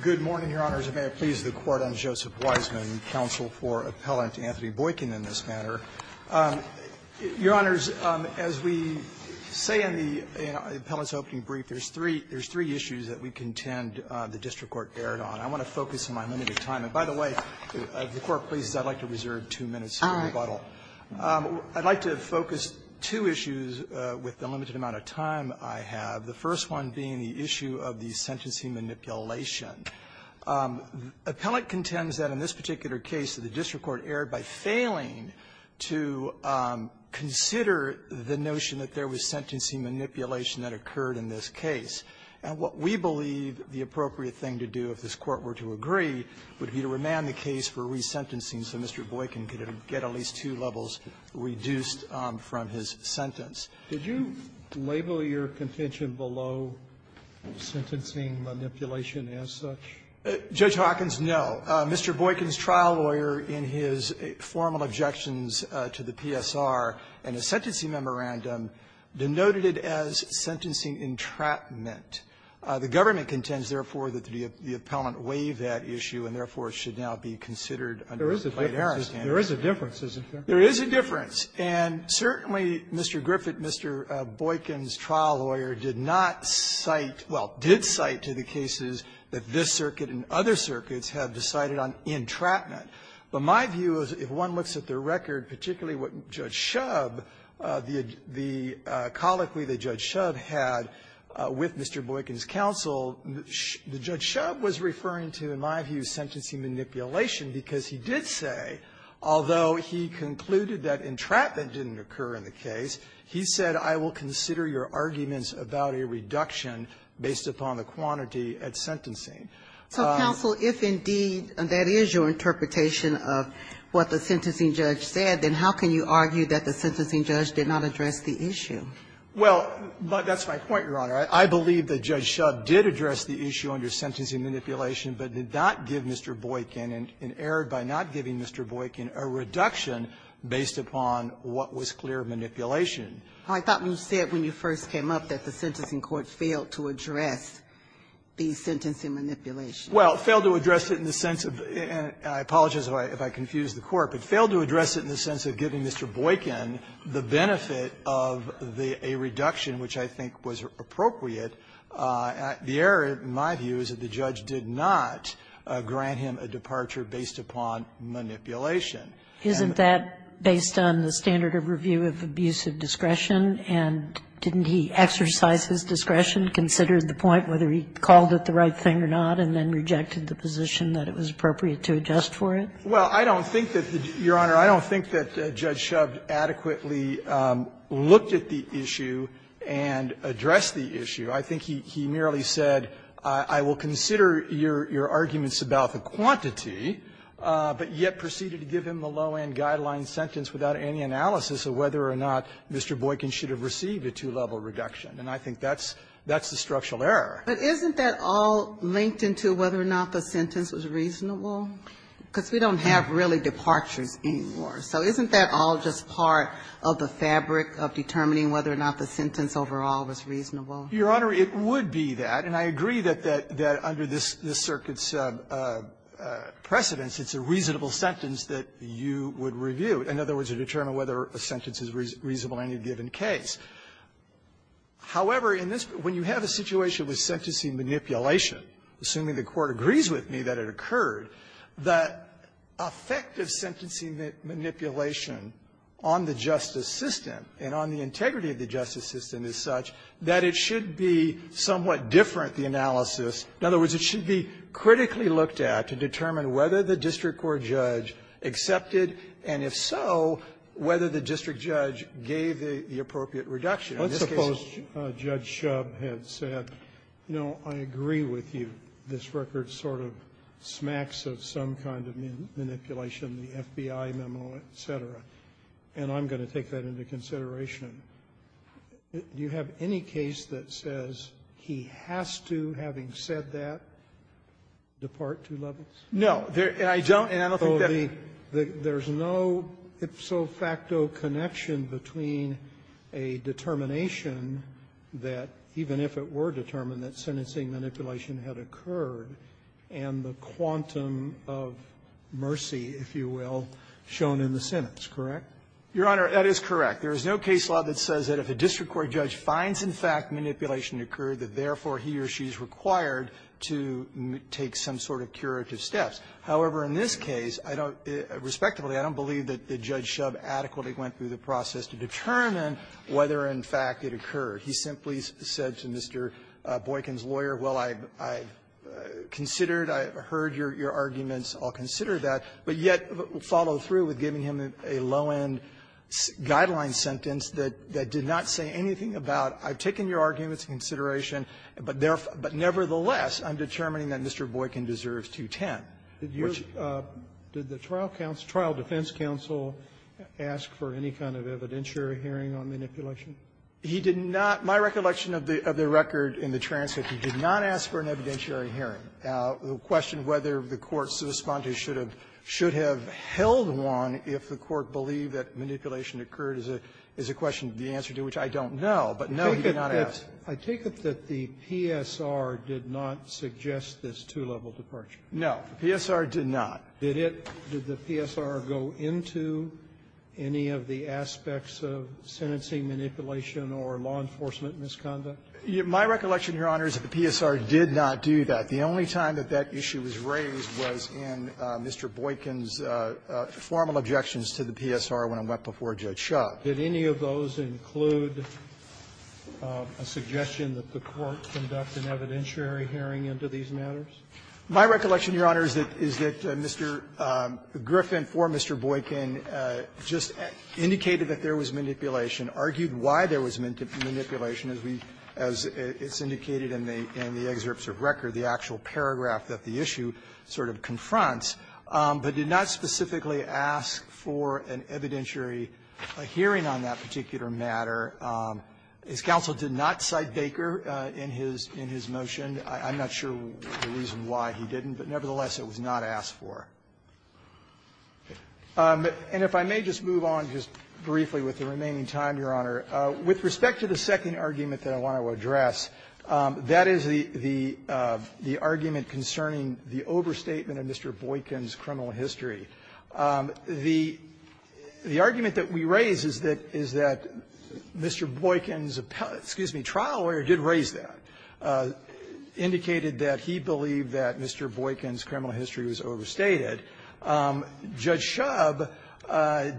Good morning, Your Honors, and may it please the Court, I'm Joseph Weisman, counsel for Appellant Anthony Boykin in this matter. Your Honors, as we say in the Appellant's opening brief, there's three issues that we contend the district court erred on. I want to focus on my limited time. And by the way, if the Court pleases, I'd like to reserve two minutes for rebuttal. I'd like to focus two issues with the limited amount of time I have, the first one being the issue of the sentencing manipulation. Appellant contends that in this particular case, that the district court erred by failing to consider the notion that there was sentencing manipulation that occurred in this case. And what we believe the appropriate thing to do, if this Court were to agree, would be to remand the case for resentencing so Mr. Boykin could get at least two levels reduced from his sentence. Did you label your contention below sentencing manipulation as such? Judge Hawkins, no. Mr. Boykin's trial lawyer, in his formal objections to the PSR and his sentencing memorandum, denoted it as sentencing entrapment. The government contends, therefore, that the Appellant waived that issue and, therefore, it should now be considered under the Plaintiff's stand. There is a difference, isn't there? There is a difference. And certainly, Mr. Griffith, Mr. Boykin's trial lawyer, did not cite, well, did cite to the cases that this circuit and other circuits have decided on entrapment. But my view is, if one looks at the record, particularly what Judge Shub, the colloquy that Judge Shub had with Mr. Boykin's counsel, Judge Shub was referring to, in my view, was sentencing manipulation, because he did say, although he concluded that entrapment didn't occur in the case, he said, I will consider your arguments about a reduction based upon the quantity at sentencing. So, counsel, if indeed that is your interpretation of what the sentencing judge said, then how can you argue that the sentencing judge did not address the issue? Well, that's my point, Your Honor. I believe that Judge Shub did address the issue under sentencing manipulation, but did not give Mr. Boykin, and erred by not giving Mr. Boykin, a reduction based upon what was clear manipulation. I thought you said when you first came up that the sentencing court failed to address the sentencing manipulation. Well, it failed to address it in the sense of the and I apologize if I confused the Court, but failed to address it in the sense of giving Mr. Boykin the benefit of a reduction which I think was appropriate. The error, in my view, is that the judge did not grant him a departure based upon manipulation. Isn't that based on the standard of review of abusive discretion, and didn't he exercise his discretion, considered the point whether he called it the right thing or not, and then rejected the position that it was appropriate to adjust for it? Well, I don't think that, Your Honor, I don't think that Judge Shub adequately looked at the issue and addressed the issue. I think he merely said, I will consider your arguments about the quantity, but yet proceeded to give him the low-end guideline sentence without any analysis of whether or not Mr. Boykin should have received a two-level reduction. And I think that's the structural error. But isn't that all linked into whether or not the sentence was reasonable? Because we don't have really departures anymore. So isn't that all just part of the fabric of determining whether or not the sentence overall was reasonable? Your Honor, it would be that. And I agree that that under this circuit's precedence, it's a reasonable sentence that you would review, in other words, to determine whether a sentence is reasonable in any given case. However, in this, when you have a situation with sentencing manipulation, assuming the Court agrees with me that it occurred, the effect of sentencing manipulation on the justice system and on the integrity of the justice system is such that it should be somewhat different, the analysis. In other words, it should be critically looked at to determine whether the district court judge accepted, and if so, whether the district judge gave the appropriate reduction. In this case the judge said, you know, I agree with you. This record sort of smacks of some kind of manipulation, the FBI memo, et cetera. And I'm going to take that into consideration. Do you have any case that says he has to, having said that, depart two levels? No. I don't, and I don't think that there's no ipso facto connection between a determination that, even if it were determined, that sentencing manipulation had occurred and the quantum of mercy, if you will, shown in the sentence, correct? Your Honor, that is correct. There is no case law that says that if a district court judge finds, in fact, manipulation occurred, that therefore he or she is required to take some sort of curative steps. However, in this case, I don't, respectively, I don't believe that Judge Shub adequately went through the process to determine whether, in fact, it occurred. He simply said to Mr. Boykin's lawyer, well, I've considered, I've heard your arguments. I'll consider that. But yet follow through with giving him a low-end guideline sentence that did not say anything about, I've taken your arguments into consideration, but nevertheless, I'm determining that Mr. Boykin deserves 210. Which you're the trial defense counsel asked for any kind of evidentiary hearing on manipulation? He did not. My recollection of the record in the transcript, he did not ask for an evidentiary hearing. The question whether the court's respondent should have held one if the court believed that manipulation occurred is a question to the answer to which I don't know, but no, he did not ask. I take it that the PSR did not suggest this two-level departure. No. The PSR did not. Did it? Did the PSR go into any of the aspects of sentencing manipulation or law enforcement misconduct? My recollection, Your Honor, is that the PSR did not do that. The only time that that issue was raised was in Mr. Boykin's formal objections to the PSR when it went before Judge Schott. Did any of those include a suggestion that the court conduct an evidentiary hearing into these matters? My recollection, Your Honor, is that Mr. Griffin, for Mr. Boykin, just indicated that there was manipulation, argued why there was manipulation, as we as it's indicated in the excerpts of record, the actual paragraph that the issue sort of confronts, but did not specifically ask for an evidentiary hearing on that particular matter. His counsel did not cite Baker in his motion. I'm not sure the reason why he didn't, but nevertheless, it was not asked for. And if I may just move on just briefly with the remaining time, Your Honor. With respect to the second argument that I want to address, that is the argument concerning the overstatement of Mr. Boykin's criminal history. The argument that we raise is that Mr. Boykin's trial lawyer did raise that, indicated that he believed that Mr. Boykin's criminal history was overstated. Judge Shubb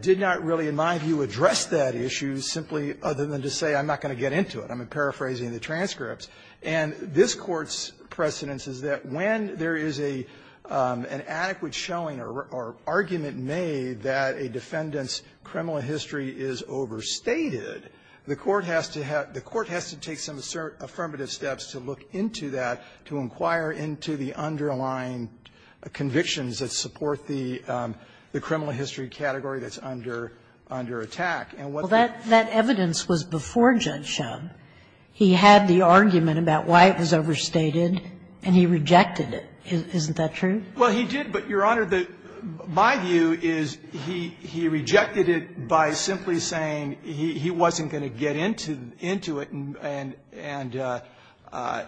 did not really, in my view, address that issue, simply other than to say I'm not going to get into it. I'm paraphrasing the transcripts. And this Court's precedence is that when there is a an adequate showing or argument made that a defendant's criminal history is overstated, the Court has to have the Court has to take some affirmative steps to look into that, to inquire into the underlying convictions that support the criminal history category that's under attack. And what the Well, that evidence was before Judge Shubb. He had the argument about why it was overstated, and he rejected it. Isn't that true? Well, he did, but, Your Honor, my view is he rejected it by simply saying he wasn't going to get into it, and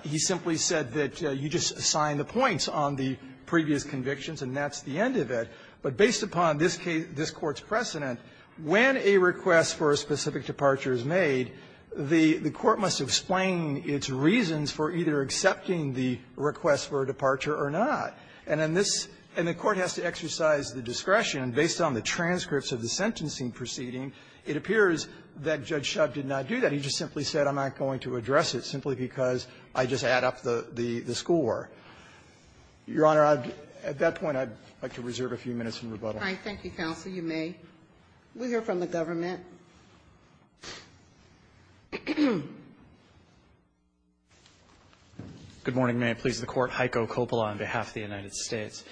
he simply said that you just assign the points on the previous convictions, and that's the end of it. But based upon this Court's precedent, when a request for a specific departure is made, the Court must explain its reasons for either accepting the request for a departure or not. And in this the Court has to exercise the discretion, and based on the transcripts of the sentencing proceeding, it appears that Judge Shubb did not do that. He just simply said I'm not going to address it simply because I just add up the score. Your Honor, at that point, I'd like to reserve a few minutes in rebuttal. All right. Thank you, counsel. You may. We'll hear from the government. Good morning. May it please the Court. Heiko Coppola on behalf of the United States.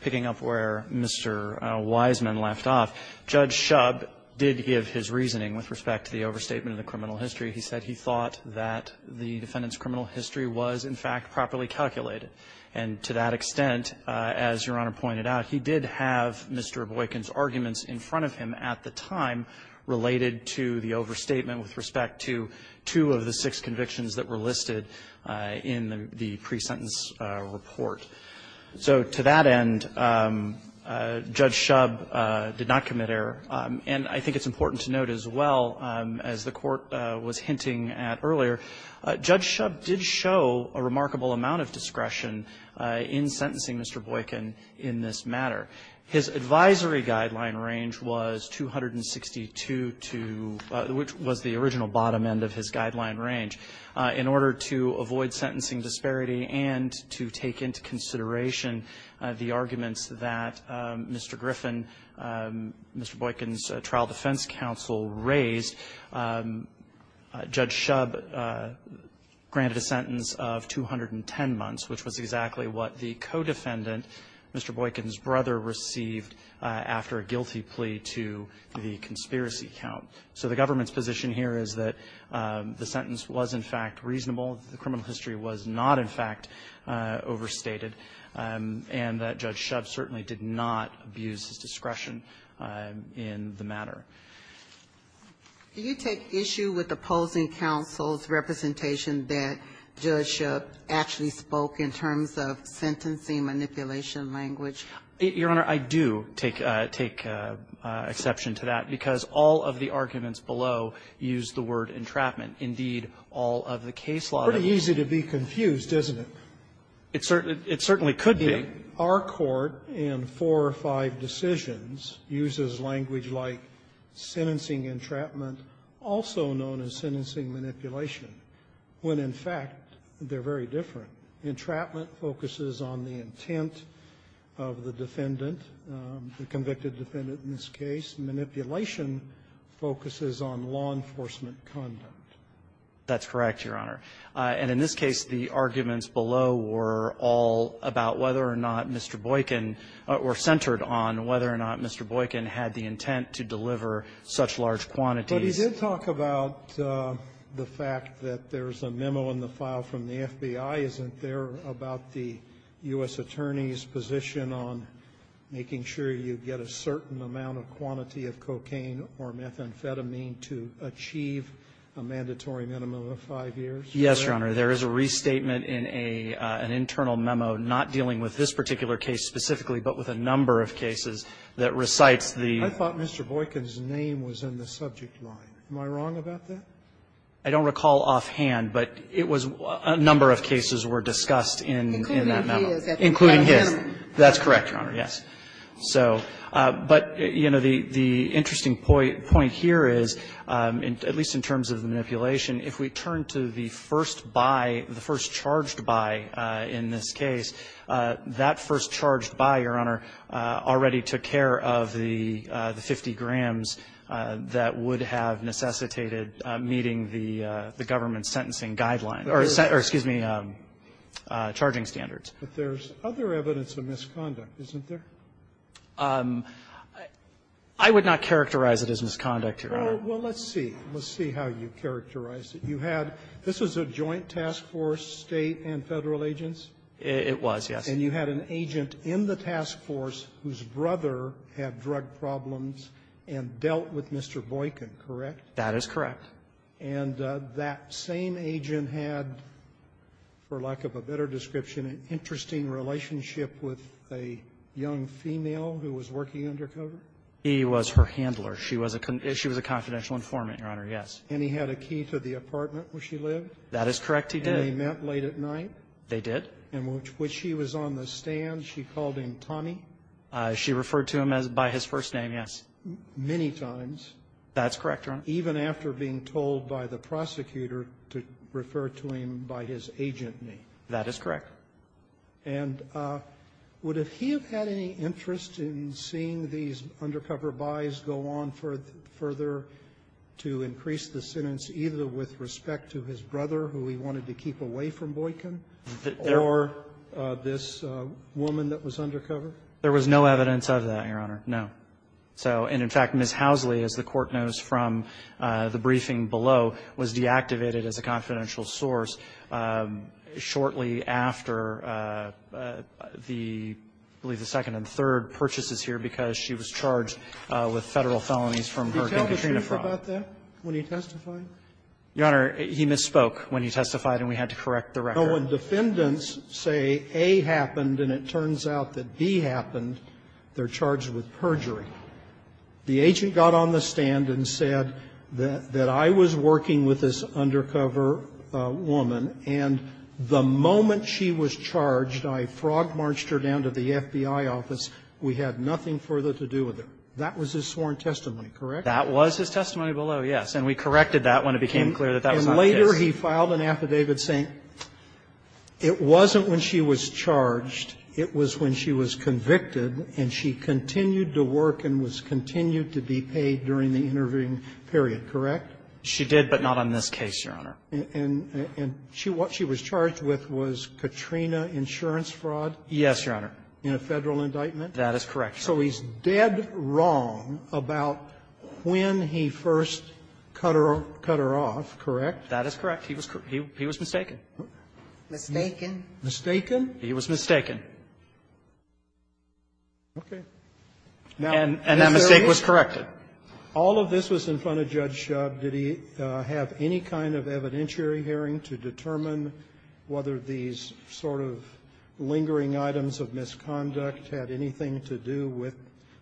Picking up where Mr. Wiseman left off, Judge Shubb did give his reasoning with respect to the overstatement of the criminal history. He said he thought that the defendant's criminal history was, in fact, properly calculated. And to that extent, as Your Honor pointed out, he did have Mr. Boykin's arguments in front of him at the time related to the overstatement with respect to two of the six convictions that were listed in the pre-sentence report. So to that end, Judge Shubb did not commit error. And I think it's important to note as well, as the Court was hinting at earlier, Judge Shubb did show a remarkable amount of discretion in sentencing Mr. Boykin in this matter. His advisory guideline range was 262 to the original bottom end of his guideline range. In order to avoid sentencing disparity and to take into consideration the arguments that Mr. Griffin, Mr. Boykin's trial defense counsel raised, Judge Shubb granted a sentence of 210 months, which was exactly what the co-defendant, Mr. Boykin's brother, received after a guilty plea to the conspiracy count. So the government's position here is that the sentence was, in fact, reasonable, the criminal history was not, in fact, overstated, and that Judge Shubb certainly did not abuse his discretion in the matter. Ginsburg. Do you take issue with opposing counsel's representation that Judge Shubb actually spoke in terms of sentencing manipulation language? Your Honor, I do take exception to that, because all of the arguments below use the word entrapment. Indeed, all of the case law that was used by Judge Shubb did not use the word entrapment. It certainly could be. Our Court, in four or five decisions, uses language like sentencing entrapment, also known as sentencing manipulation, when, in fact, they're very different. Entrapment focuses on the intent of the defendant, the convicted defendant in this case. Manipulation focuses on law enforcement conduct. That's correct, Your Honor. And in this case, the arguments below were all about whether or not Mr. Boykin or centered on whether or not Mr. Boykin had the intent to deliver such large quantities. But he did talk about the fact that there's a memo in the file from the FBI, isn't there, about the U.S. attorney's position on making sure you get a certain amount of cocaine or methamphetamine to achieve a mandatory minimum of five years? Yes, Your Honor. There is a restatement in an internal memo not dealing with this particular case specifically, but with a number of cases that recites the ---- I thought Mr. Boykin's name was in the subject line. Am I wrong about that? I don't recall offhand, but it was ---- a number of cases were discussed in that memo. Including his. Including his. That's correct, Your Honor. Yes. So, but, you know, the interesting point here is, at least in terms of the manipulation, if we turn to the first buy, the first charged buy in this case, that first charged buy, Your Honor, already took care of the 50 grams that would have necessitated meeting the government's sentencing guideline or, excuse me, charging standards. But there's other evidence of misconduct, isn't there? I would not characterize it as misconduct, Your Honor. Well, let's see. Let's see how you characterize it. You had ---- this was a joint task force, State and Federal agents? It was, yes. And you had an agent in the task force whose brother had drug problems and dealt with Mr. Boykin, correct? That is correct. And that same agent had, for lack of a better description, an interesting relationship with a young female who was working undercover? He was her handler. She was a confidential informant, Your Honor, yes. And he had a key to the apartment where she lived? That is correct. He did. And they met late at night? They did. And when she was on the stand, she called him Tommy? She referred to him by his first name, yes. Many times. That's correct, Your Honor. Even after being told by the prosecutor to refer to him by his agent name? That is correct. And would he have had any interest in seeing these undercover buys go on further to increase the sentence either with respect to his brother, who he wanted to keep away from Boykin, or this woman that was undercover? There was no evidence of that, Your Honor, no. So and, in fact, Ms. Housley, as the Court knows from the briefing below, was deactivated as a confidential source shortly after the, I believe, the second and third purchases here because she was charged with Federal felonies from her concatenation fraud. Did he tell the truth about that when he testified? Your Honor, he misspoke when he testified, and we had to correct the record. No. When defendants say A happened and it turns out that B happened, they're charged with perjury. The agent got on the stand and said that I was working with this undercover woman, and the moment she was charged, I frog-marched her down to the FBI office. We had nothing further to do with her. That was his sworn testimony, correct? That was his testimony below, yes. And we corrected that when it became clear that that was not the case. And later he filed an affidavit saying it wasn't when she was charged, it was when she was convicted, and she continued to work and was continued to be paid during the interviewing period, correct? She did, but not on this case, Your Honor. And what she was charged with was Katrina insurance fraud? Yes, Your Honor. In a Federal indictment? That is correct. So he's dead wrong about when he first cut her off, correct? That is correct. He was mistaken. Mistaken? Mistaken? He was mistaken. Okay. Now, is there any All of this was in front of Judge Shubb. Did he have any kind of evidentiary hearing to determine whether these sort of lingering items of misconduct had anything to do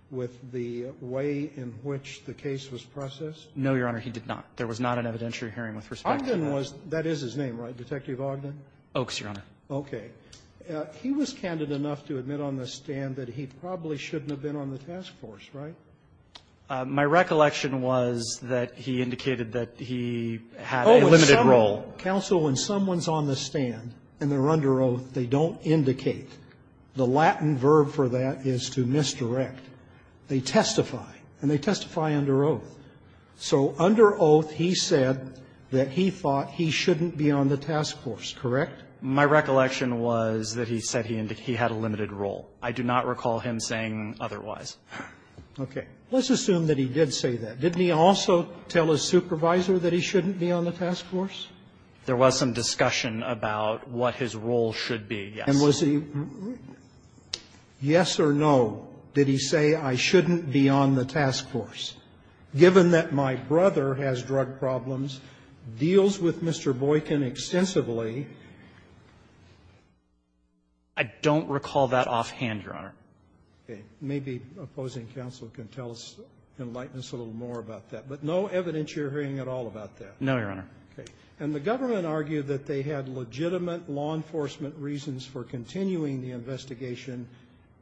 with the way in which the case was processed? No, Your Honor. He did not. There was not an evidentiary hearing with respect to that. Ogden was that is his name, right? Detective Ogden? Oakes, Your Honor. Okay. He was candid enough to admit on the stand that he probably shouldn't have been on the task force, right? My recollection was that he indicated that he had a limited role. Counsel, when someone's on the stand and they're under oath, they don't indicate. The Latin verb for that is to misdirect. They testify, and they testify under oath. So under oath, he said that he thought he shouldn't be on the task force, correct? My recollection was that he said he indicated he had a limited role. I do not recall him saying otherwise. Okay. Let's assume that he did say that. Didn't he also tell his supervisor that he shouldn't be on the task force? There was some discussion about what his role should be, yes. And was he yes or no, did he say I shouldn't be on the task force, given that my brother has drug problems, deals with Mr. Boykin extensively? I don't recall that offhand, Your Honor. Okay. Maybe opposing counsel can tell us, enlighten us a little more about that. But no evidence you're hearing at all about that? No, Your Honor. Okay. And the government argued that they had legitimate law enforcement reasons for continuing the investigation,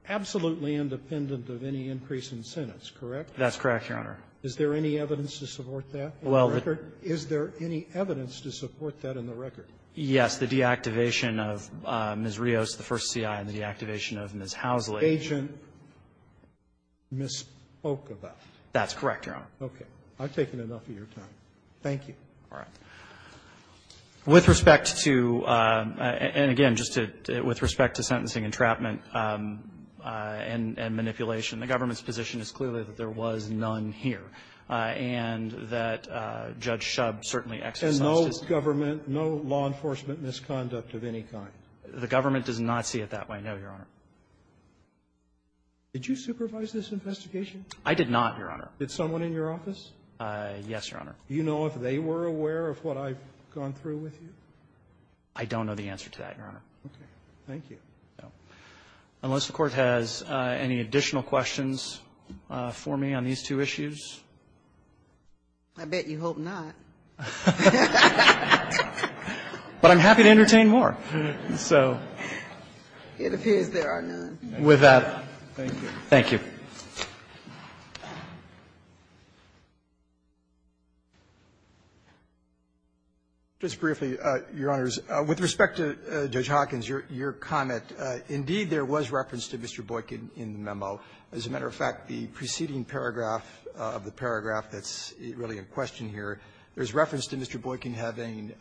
absolutely independent of any increase in sentence, correct? That's correct, Your Honor. Is there any evidence to support that in the record? Is there any evidence to support that in the record? Yes. The deactivation of Ms. Rios, the first C.I., and the deactivation of Ms. Housley. Agent misspoke about it. That's correct, Your Honor. Okay. I've taken enough of your time. Thank you. All right. With respect to and again, just to with respect to sentencing entrapment and manipulation, the government's position is clearly that there was none here and that Judge Shub certainly exercised his ---- And no government, no law enforcement misconduct of any kind? The government does not see it that way, no, Your Honor. Did you supervise this investigation? I did not, Your Honor. Did someone in your office? Yes, Your Honor. Do you know if they were aware of what I've gone through with you? I don't know the answer to that, Your Honor. Okay. Thank you. Unless the Court has any additional questions for me on these two issues. I bet you hope not. But I'm happy to entertain more. So. It appears there are none. With that, thank you. Thank you. Just briefly, Your Honors, with respect to Judge Hawkins, your comment, indeed, there was reference to Mr. Boykin in the memo. As a matter of fact, the preceding paragraph of the paragraph that's really in question here, there's reference to Mr. Boykin having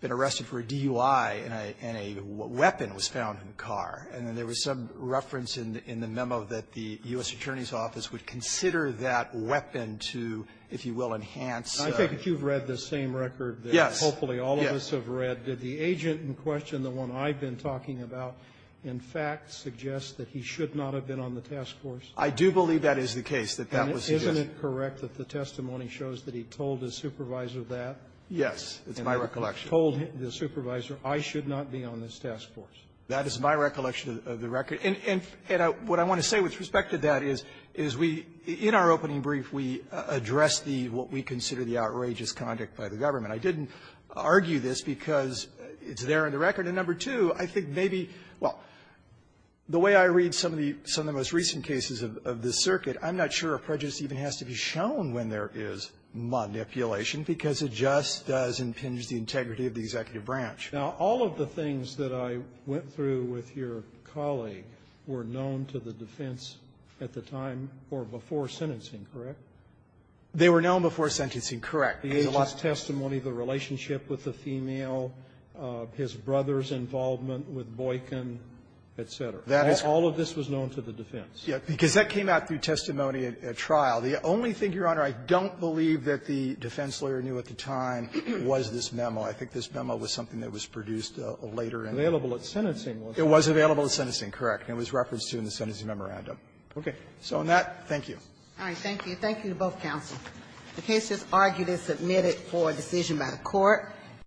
been arrested for a DUI and a weapon was found in the car. And there was some reference in the memo that the U.S. Attorney's Office would consider that weapon to, if you will, enhance. I take it you've read the same record that hopefully all of us have read. Did the agent in question, the one I've been talking about, in fact suggest that he should not have been on the task force? I do believe that is the case, that that was suggested. And isn't it correct that the testimony shows that he told his supervisor that? Yes. It's my recollection. He told the supervisor, I should not be on this task force. That is my recollection of the record. And what I want to say with respect to that is, is we, in our opening brief, we addressed the, what we consider the outrageous conduct by the government. I didn't argue this because it's there in the record. And number two, I think maybe, well, the way I read some of the, some of the most recent cases of this circuit, I'm not sure a prejudice even has to be shown when there is manipulation, because it just does impinge the integrity of the executive branch. Now, all of the things that I went through with your colleague were known to the defense at the time or before sentencing, correct? They were known before sentencing, correct. The agent's testimony, the relationship with the female, his brother's involvement with Boykin, et cetera. That is all of this was known to the defense. Yes. Because that came out through testimony at trial. The only thing, Your Honor, I don't believe that the defense lawyer knew at the time was this memo. I think this memo was something that was produced later in the court. It was available at sentencing, correct. It was referenced to in the sentencing memorandum. Okay. So on that, thank you. All right. Thank you. Thank you to both counsels. The case is argued and submitted for decision by the Court.